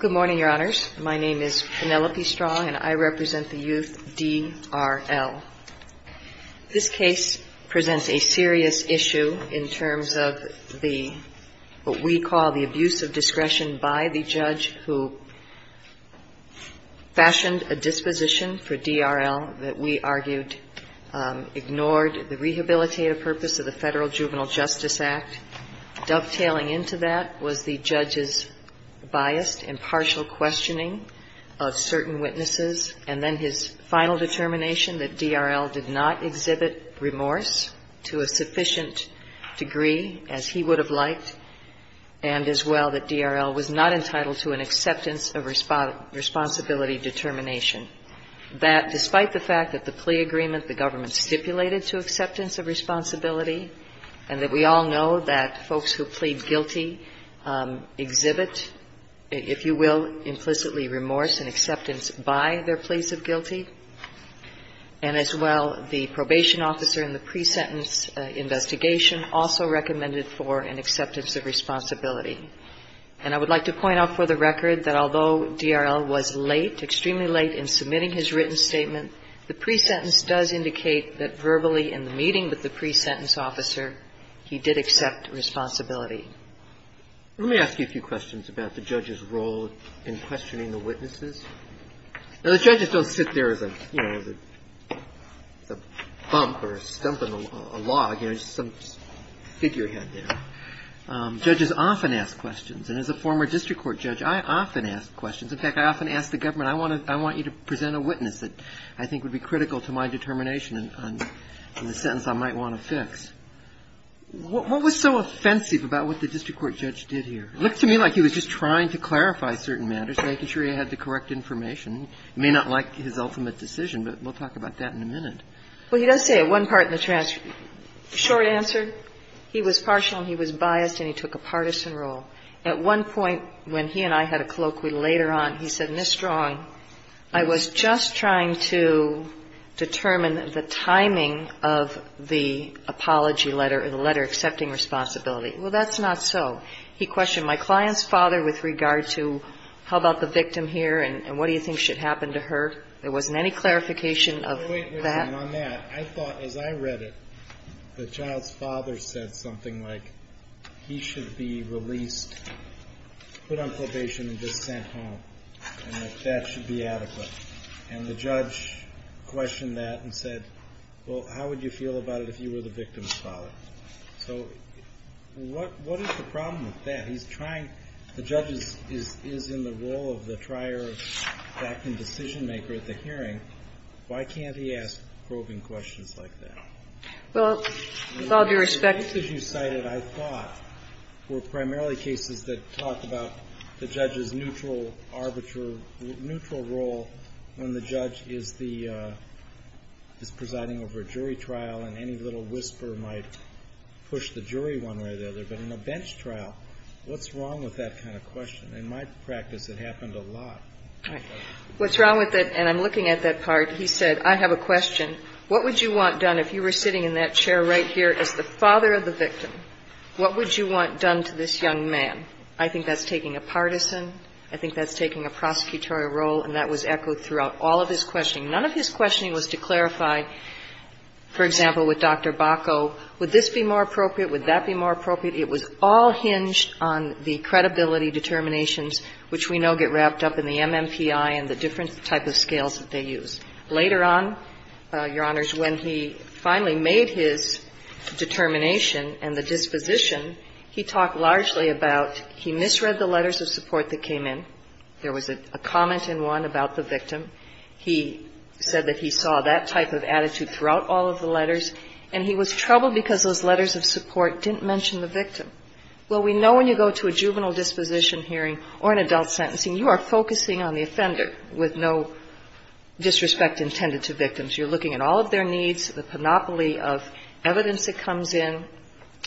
Good morning, Your Honors. My name is Penelope Strong, and I represent the youth D.R.L. This case presents a serious issue in terms of the, what we call the abuse of discretion by the judge who fashioned a disposition for D.R.L. that we argued ignored the rehabilitative purpose of the Federal Juvenile Justice Act. Dovetailing into that was the judge's biased, impartial questioning of certain witnesses, and then his final determination that D.R.L. did not exhibit remorse to a sufficient degree as he would have liked, and as well that D.R.L. was not entitled to an acceptance of responsibility determination. That, despite the fact that the plea agreement the government stipulated to acceptance of responsibility, and that we all know that folks who plead guilty exhibit, if you will, implicitly remorse and acceptance by their pleas of guilty, and as well, the probation officer in the pre-sentence investigation also recommended for an acceptance of responsibility. And I would like to point out for the record that although D.R.L. was late, extremely late in submitting his written statement, the pre-sentence does indicate that verbally in the meeting with the pre-sentence officer, he did accept responsibility. Let me ask you a few questions about the judge's role in questioning the witnesses. Now, the judges don't sit there as a, you know, as a bump or a stump in a log, you know, just some figurehead there. Judges often ask questions, and as a former district court judge, I often ask questions. In fact, I often ask the government, I want you to present a witness that I think would be critical to my determination on the sentence I might want to fix. What was so offensive about what the district court judge did here? It looked to me like he was just trying to clarify certain matters, making sure he had the correct information. You may not like his ultimate decision, but we'll talk about that in a minute. Well, he does say at one part in the short answer, he was partial and he was biased and he took a partisan role. At one point when he and I had a colloquy later on, he said, Ms. Strong, I was just trying to determine the timing of the apology letter or the letter accepting responsibility. Well, that's not so. He questioned my client's father with regard to how about the victim here and what do you think should happen to her? There wasn't any clarification of that. On that, I thought as I read it, the child's father said something like he should be released, put on probation and just sent home and that that should be adequate. And the judge questioned that and said, well, how would you feel about it if you were the victim's father? So what is the problem with that? He's trying, the judge is in the role of the trier of acting decision maker at the hearing. Why can't he ask probing questions like that? Well, with all due respect to the The cases you cited, I thought, were primarily cases that talk about the judge's neutral arbiter, neutral role when the judge is the, is presiding over a jury trial and any little whisper might push the jury one way or the other. But in a bench trial, what's wrong with that kind of question? In my practice, it happened a lot. What's wrong with it? And I'm looking at that part. He said, I have a question. What would you want done if you were sitting in that chair right here as the father of the victim? What would you want done to this young man? I think that's taking a partisan, I think that's taking a prosecutorial role, and that was echoed throughout all of his questioning. None of his questioning was to clarify, for example, with Dr. Bacow, would this be more appropriate? Would that be more appropriate? It was all hinged on the credibility determinations, which we know get wrapped up in the MMPI and the different type of scales that they use. Later on, Your Honors, when he finally made his determination and the disposition, he talked largely about he misread the letters of support that came in. There was a comment in one about the victim. He said that he saw that type of attitude throughout all of the letters, and he was Well, we know when you go to a juvenile disposition hearing or an adult sentencing, you are focusing on the offender with no disrespect intended to victims. You're looking at all of their needs, the panoply of evidence that comes in,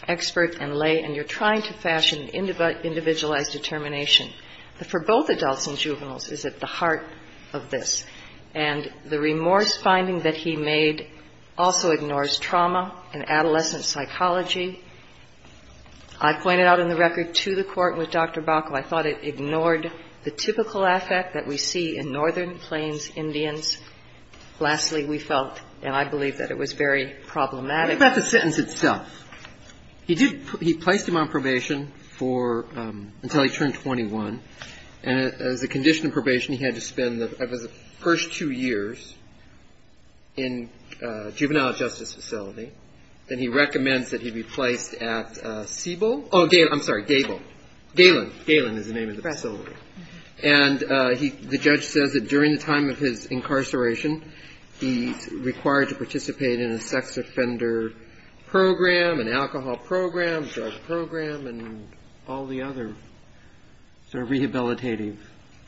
expert and lay, and you're trying to fashion an individualized determination. But for both adults and juveniles, it's at the heart of this. And the remorse finding that he made also ignores trauma and adolescent psychology I pointed out in the record to the Court with Dr. Bacall. I thought it ignored the typical affect that we see in Northern Plains Indians. Lastly, we felt, and I believe that it was very problematic. Think about the sentence itself. He did he placed him on probation for until he turned 21. And as a condition of probation, he had to spend the first two years in a juvenile justice facility, and he recommends that he be placed at Siebel. Oh, I'm sorry, Galen. Galen is the name of the facility. And the judge says that during the time of his incarceration, he's required to participate in a sex offender program, an alcohol program, a drug program, and all the other sort of rehabilitative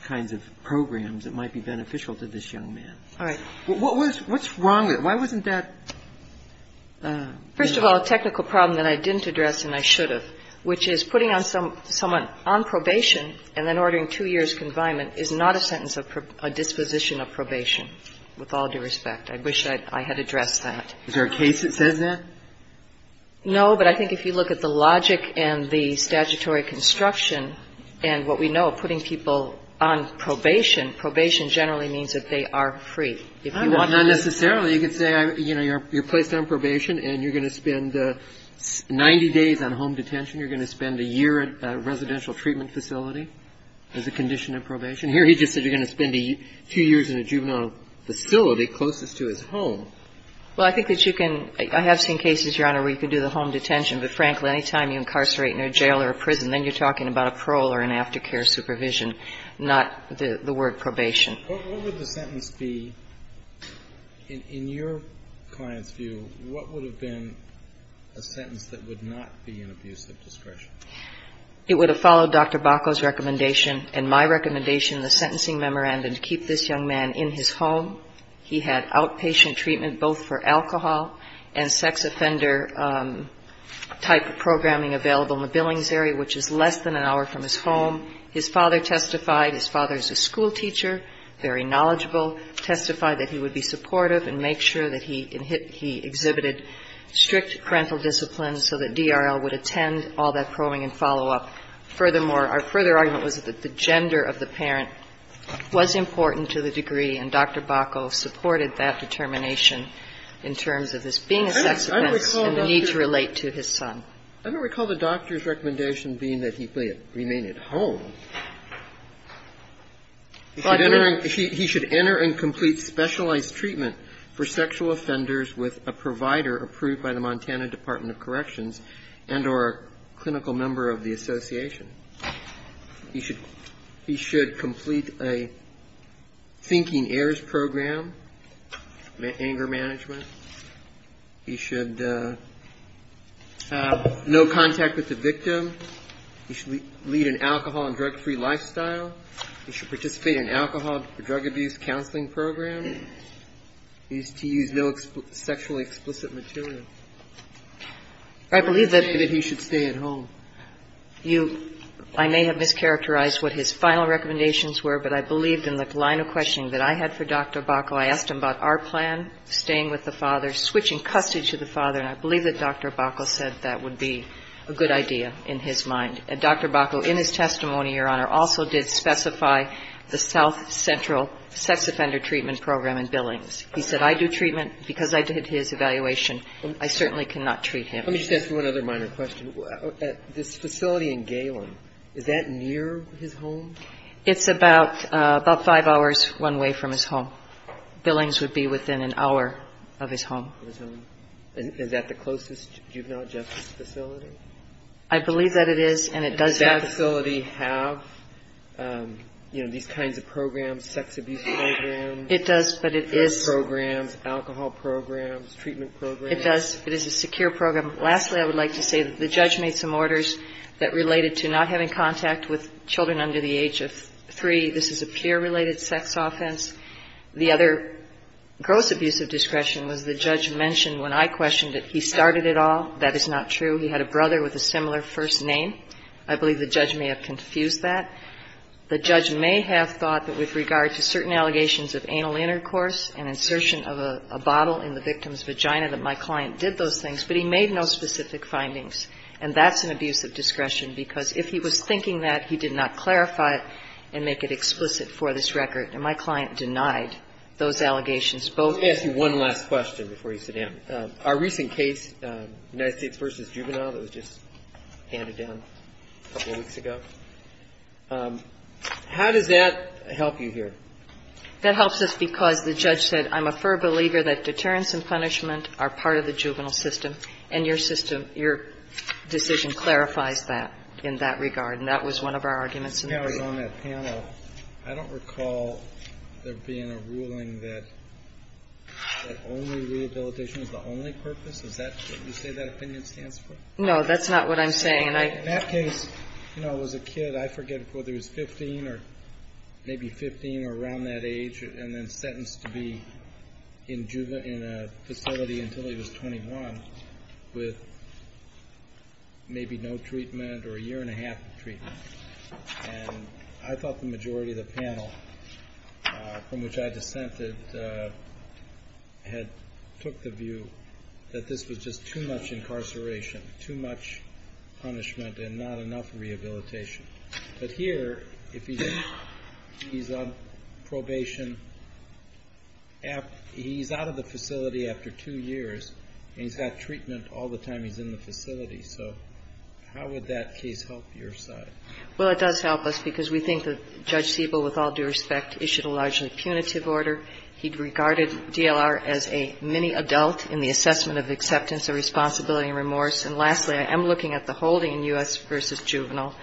kinds of programs that might be beneficial to this young man. All right. What's wrong with it? Why wasn't that? First of all, a technical problem that I didn't address and I should have, which is putting someone on probation and then ordering two years' confinement is not a sentence of a disposition of probation with all due respect. I wish I had addressed that. Is there a case that says that? No, but I think if you look at the logic and the statutory construction and what we know of putting people on probation, probation generally means that they are free. Not necessarily. You could say, you know, you're placed on probation and you're going to spend 90 days on home detention. You're going to spend a year at a residential treatment facility as a condition of probation. Here he just said you're going to spend two years in a juvenile facility closest to his home. Well, I think that you can – I have seen cases, Your Honor, where you can do the home detention, but frankly, any time you incarcerate in a jail or a prison, then you're talking about a parole or an aftercare supervision, not the word probation. What would the sentence be? In your client's view, what would have been a sentence that would not be an abuse of discretion? It would have followed Dr. Bacow's recommendation and my recommendation in the sentencing memorandum to keep this young man in his home. He had outpatient treatment both for alcohol and sex offender type of programming available in the Billings area, which is less than an hour from his home. His father testified. His father is a schoolteacher, very knowledgeable, testified that he would be supportive and make sure that he exhibited strict parental discipline so that DRL would attend all that probing and follow-up. Furthermore, our further argument was that the gender of the parent was important to the degree, and Dr. Bacow supported that determination in terms of his being a sex offender and the need to relate to his son. I don't recall the doctor's recommendation being that he remain at home. He should enter and complete specialized treatment for sexual offenders with a provider approved by the Montana Department of Corrections and or a clinical member of the association. He should complete a thinking heirs program, anger management. He should have no contact with the victim. He should lead an alcohol and drug-free lifestyle. He should participate in an alcohol or drug abuse counseling program. He is to use no sexually explicit material. I believe that he should stay at home. You – I may have mischaracterized what his final recommendations were, but I believed in the line of questioning that I had for Dr. Bacow. I asked him about our plan, staying with the father, switching custody to the father, and I believe that Dr. Bacow said that would be a good idea in his mind. And Dr. Bacow, in his testimony, Your Honor, also did specify the south central sex offender treatment program and billings. He said, I do treatment because I did his evaluation. I certainly cannot treat him. Let me just ask you one other minor question. This facility in Galen, is that near his home? It's about five hours one way from his home. Billings would be within an hour of his home. Is that the closest juvenile justice facility? I believe that it is, and it does have a facility. Does that facility have, you know, these kinds of programs, sex abuse programs? It does, but it is. Drug programs, alcohol programs, treatment programs? It does. It is a secure program. Lastly, I would like to say that the judge made some orders that related to not having contact with children under the age of three. This is a peer-related sex offense. The other gross abuse of discretion was the judge mentioned when I questioned it, he started it all. That is not true. He had a brother with a similar first name. I believe the judge may have confused that. The judge may have thought that with regard to certain allegations of anal intercourse and insertion of a bottle in the victim's vagina, that my client did those things, but he made no specific findings. And that's an abuse of discretion, because if he was thinking that, he did not clarify it and make it explicit for this record. And my client denied those allegations both. Let me ask you one last question before you sit down. Our recent case, United States v. Juvenile, that was just handed down a couple weeks ago, how does that help you here? That helps us because the judge said, I'm a firm believer that deterrence and punishment are part of the juvenile system, and your system, your decision clarifies that in that regard. And that was one of our arguments in the report. I don't recall there being a ruling that only rehabilitation is the only purpose. Is that what you say that opinion stands for? No, that's not what I'm saying. In that case, you know, it was a kid, I forget, whether he was 15 or maybe 15 or around that age and then sentenced to be in a facility until he was 21 with maybe no treatment or a year and a half of treatment. And I thought the majority of the panel, from which I dissented, had took the view that this was just too much incarceration, too much punishment and not enough rehabilitation. But here, if he's on probation, he's out of the facility after two years, and he's got treatment all the time he's in the facility. So how would that case help your side? Well, it does help us because we think that Judge Siebel, with all due respect, issued a largely punitive order. He regarded DLR as a mini-adult in the assessment of acceptance of responsibility and remorse. And lastly, I am looking at the holding in U.S. v. Juvenile,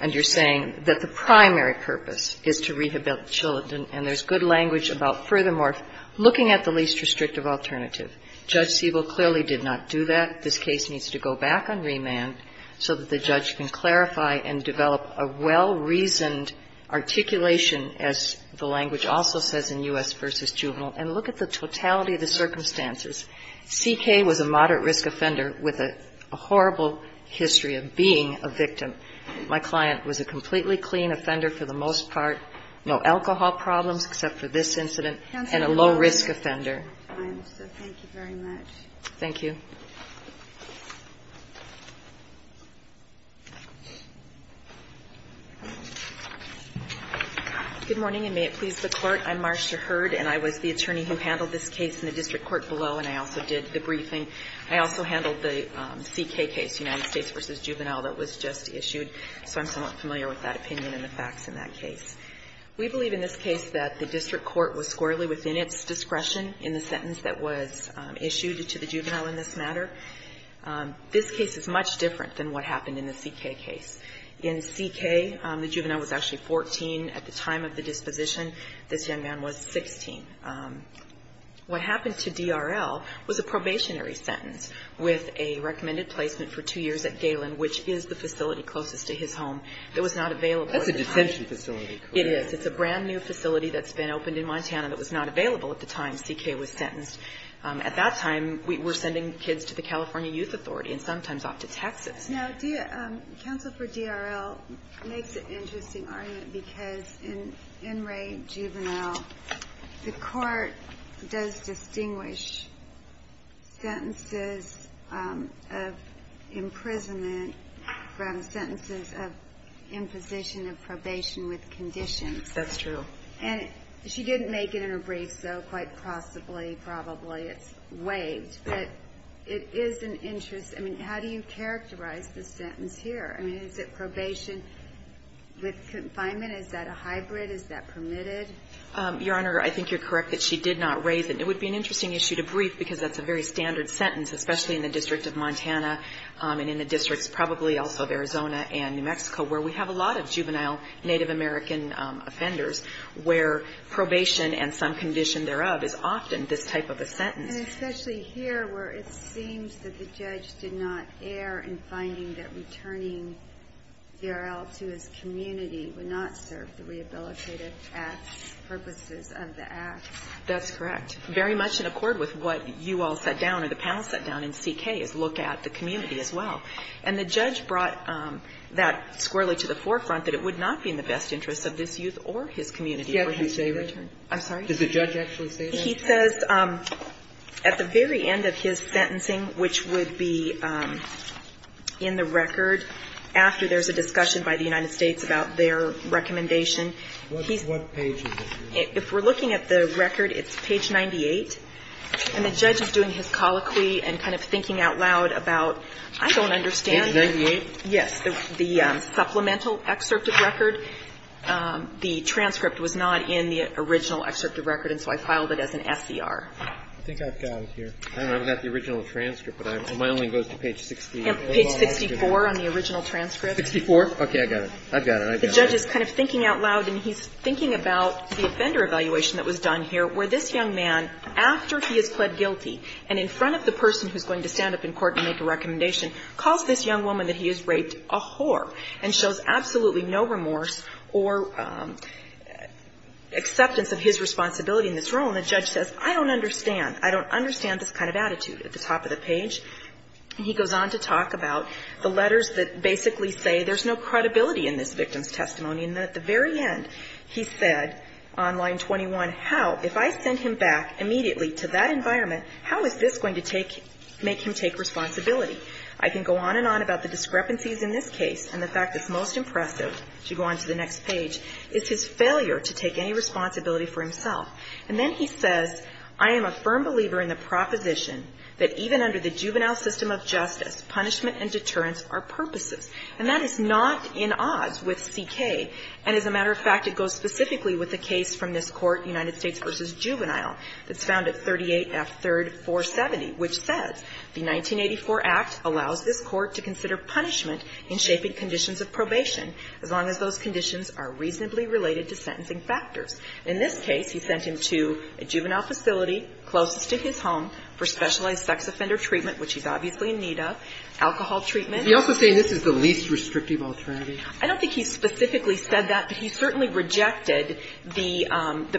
and you're saying that the primary purpose is to rehabilitate children, and there's good language about, furthermore, looking at the least restrictive alternative. Judge Siebel clearly did not do that. This case needs to go back on remand so that the judge can clarify and develop a well-reasoned articulation, as the language also says in U.S. v. Juvenile, and look at the totality of the circumstances. C.K. was a moderate-risk offender with a horrible history of being a victim. My client was a completely clean offender for the most part, no alcohol problems except for this incident, and a low-risk offender. Thank you very much. Thank you. Good morning, and may it please the Court. I'm Marcia Hurd, and I was the attorney who handled this case in the district court below, and I also did the briefing. I also handled the C.K. case, United States v. Juvenile, that was just issued, so I'm somewhat familiar with that opinion and the facts in that case. We believe in this case that the district court was squarely within its discretion in the sentence that was issued to the juvenile in this matter. This case is much different than what happened in the C.K. case. In C.K., the juvenile was actually 14 at the time of the disposition. This young man was 16. What happened to D.R.L. was a probationary sentence with a recommended placement for two years at Galen, which is the facility closest to his home. It was not available at the time. It's a new probation facility. It is. It's a brand-new facility that's been opened in Montana that was not available at the time C.K. was sentenced. At that time, we were sending kids to the California Youth Authority and sometimes off to Texas. Now, counsel for D.R.L. makes an interesting argument, because in Enright Juvenile, the court does distinguish sentences of imprisonment from sentences of imposition of probation with conditions. That's true. And she didn't make it in her brief, so quite possibly, probably it's waived. But it is an interest. I mean, how do you characterize the sentence here? I mean, is it probation with confinement? Is that a hybrid? Is that permitted? Your Honor, I think you're correct that she did not raise it. It would be an interesting issue to brief, because that's a very standard sentence, especially in the District of Montana and in the districts probably also of Arizona and New Mexico, where we have a lot of juvenile Native American offenders, where probation and some condition thereof is often this type of a sentence. And especially here, where it seems that the judge did not err in finding that returning D.R.L. to his community would not serve the rehabilitative purposes of the act. That's correct. It's very much in accord with what you all set down or the panel set down in C.K., is look at the community as well. And the judge brought that squarely to the forefront, that it would not be in the best interest of this youth or his community for him to return. I'm sorry? Does the judge actually say that? He says at the very end of his sentencing, which would be in the record after there's a discussion by the United States about their recommendation. What page is this? If we're looking at the record, it's page 98. And the judge is doing his colloquy and kind of thinking out loud about, I don't understand. Page 98? Yes. The supplemental excerpt of record. The transcript was not in the original excerpt of record, and so I filed it as an S.E.R. I think I've got it here. I don't know. I've got the original transcript, but my only goes to page 60. Page 64 on the original transcript. 64? Okay. I've got it. I've got it. The judge is kind of thinking out loud, and he's thinking about the offender evaluation that was done here, where this young man, after he is pled guilty and in front of the person who's going to stand up in court and make a recommendation, calls this young woman that he has raped a whore and shows absolutely no remorse or acceptance of his responsibility in this role. And the judge says, I don't understand. I don't understand this kind of attitude at the top of the page. He goes on to talk about the letters that basically say there's no credibility in this victim's testimony. And at the very end, he said on line 21, how, if I send him back immediately to that environment, how is this going to take, make him take responsibility? I can go on and on about the discrepancies in this case, and the fact it's most impressive, if you go on to the next page, is his failure to take any responsibility for himself. And then he says, I am a firm believer in the proposition that even under the juvenile system of justice, punishment and deterrence are purposes. And that is not in odds with CK. And as a matter of fact, it goes specifically with the case from this Court, United States v. Juvenile, that's found at 38F3rd 470, which says, the 1984 Act allows this Court to consider punishment in shaping conditions of probation as long as those conditions are reasonably related to sentencing factors. In this case, he sent him to a juvenile facility closest to his home for specialized sex offender treatment, which he's obviously in need of, alcohol treatment. He's also saying this is the least restrictive alternative? I don't think he specifically said that, but he certainly rejected the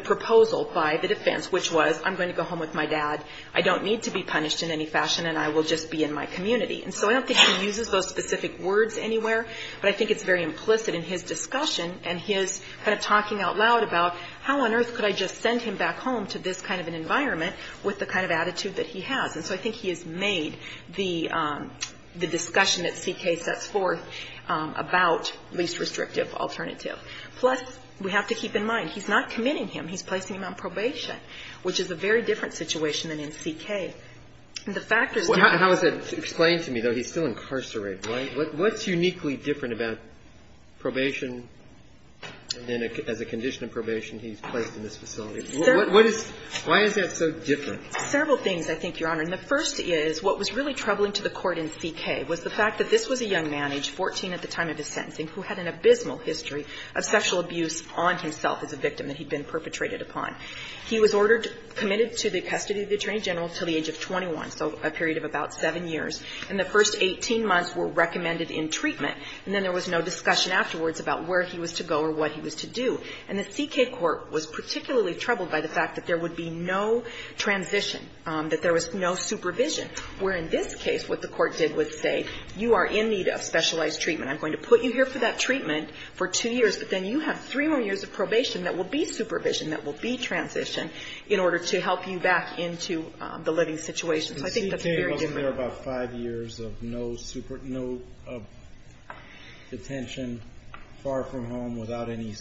proposal by the defense, which was, I'm going to go home with my dad, I don't need to be punished in any fashion, and I will just be in my community. And so I don't think he uses those specific words anywhere, but I think it's very implicit in his discussion and his kind of talking out loud about how on earth could I just send him back home to this kind of an environment with the kind of attitude that he has. And so I think he has made the discussion that C.K. sets forth about least restrictive alternative. Plus, we have to keep in mind, he's not committing him. He's placing him on probation, which is a very different situation than in C.K. And the factors don't... How is that explained to me, though? He's still incarcerated, right? What's uniquely different about probation and then as a condition of probation he's placed in this facility? What is why is that so different? Several things, I think, Your Honor. And the first is what was really troubling to the court in C.K. was the fact that this was a young man, age 14 at the time of his sentencing, who had an abysmal history of sexual abuse on himself as a victim that he'd been perpetrated upon. He was ordered, committed to the custody of the Attorney General until the age of 21, so a period of about 7 years. And the first 18 months were recommended in treatment, and then there was no discussion afterwards about where he was to go or what he was to do. And the C.K. Court was that there was no supervision, where in this case what the court did was say, you are in need of specialized treatment. I'm going to put you here for that treatment for 2 years, but then you have 3 more years of probation that will be supervision, that will be transition, in order to help you back into the living situation. So I think that's very different. But C.K. wasn't there about 5 years of no detention, far from home, without any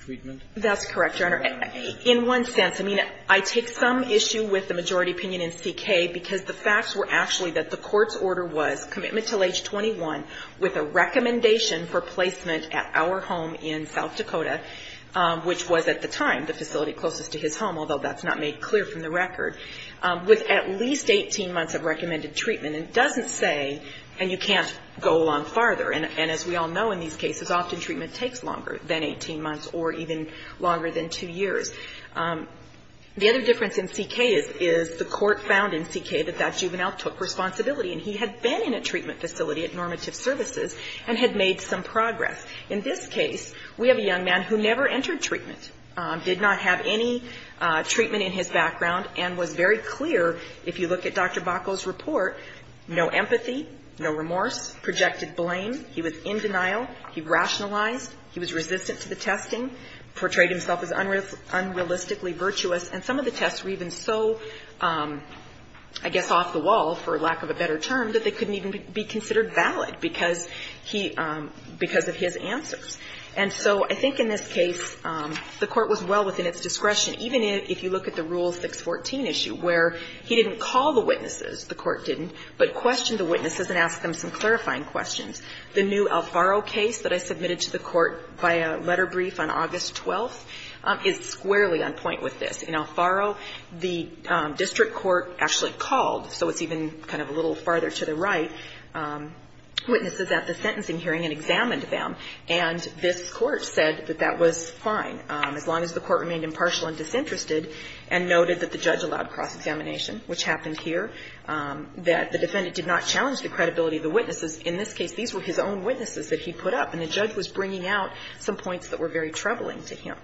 treatment? That's correct, Your Honor. In one sense, I mean, I take some issue with the majority opinion in C.K. because the facts were actually that the court's order was commitment until age 21 with a recommendation for placement at our home in South Dakota, which was at the time the facility closest to his home, although that's not made clear from the record, with at least 18 months of recommended treatment. And it doesn't say, and you can't go along farther. And as we all know in these cases, often treatment takes longer than 18 months or even longer than 2 years. The other difference in C.K. is the court found in C.K. that that juvenile took responsibility, and he had been in a treatment facility at Normative Services and had made some progress. In this case, we have a young man who never entered treatment, did not have any treatment in his background, and was very clear, if you look at Dr. Bacall's report, no empathy, no remorse, projected blame, he was in denial, he rationalized, he was resistant to the testing, portrayed himself as unrealistically virtuous. And some of the tests were even so, I guess, off the wall, for lack of a better term, that they couldn't even be considered valid because he – because of his answers. And so I think in this case, the court was well within its discretion, even if you look at the Rule 614 issue, where he didn't call the witnesses, the court didn't, but questioned the witnesses and asked them some clarifying questions. The new Alfaro case that I submitted to the Court by a letter brief on August 12th is squarely on point with this. In Alfaro, the district court actually called, so it's even kind of a little farther to the right, witnesses at the sentencing hearing and examined them, and this Court said that that was fine, as long as the Court remained impartial and disinterested, and noted that the judge allowed cross-examination, which happened here, that the defendant did not challenge the credibility of the witnesses. In this case, these were his own witnesses that he put up, and the judge was bringing out some points that were very troubling to him.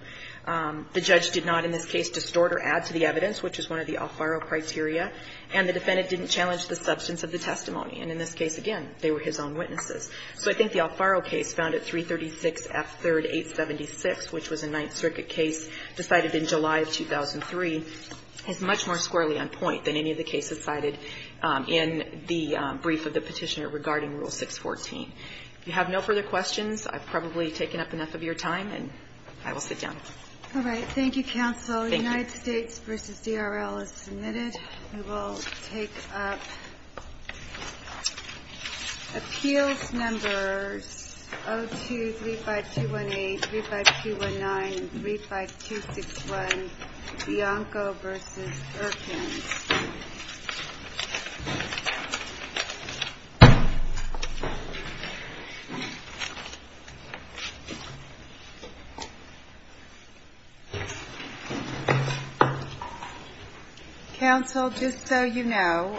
The judge did not in this case distort or add to the evidence, which is one of the Alfaro criteria, and the defendant didn't challenge the substance of the testimony. And in this case, again, they were his own witnesses. So I think the Alfaro case found at 336 F. 3rd. 876, which was a Ninth Circuit case decided in July of 2003, is much more squarely on point than any of the cases cited in the brief of the Petitioner regarding Rule 614. If you have no further questions, I've probably taken up enough of your time, and I will sit down. All right. Thank you, counsel. Thank you. United States v. DRL is submitted. We will take up appeals numbers 0235218, 035219, 035261, Bianco v. Erkins. Counsel, just so you know,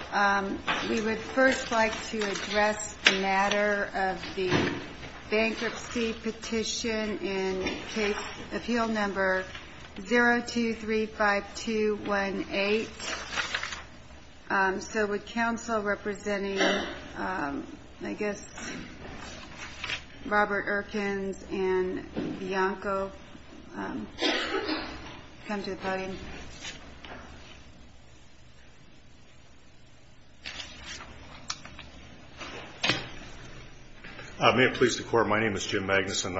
we would first like to address the matter of the bankruptcy petition in case appeal number 0235218. So would counsel representing, I guess, Robert Erkins and Bianco come to the podium? May it please the Court, my name is Jim Magnuson.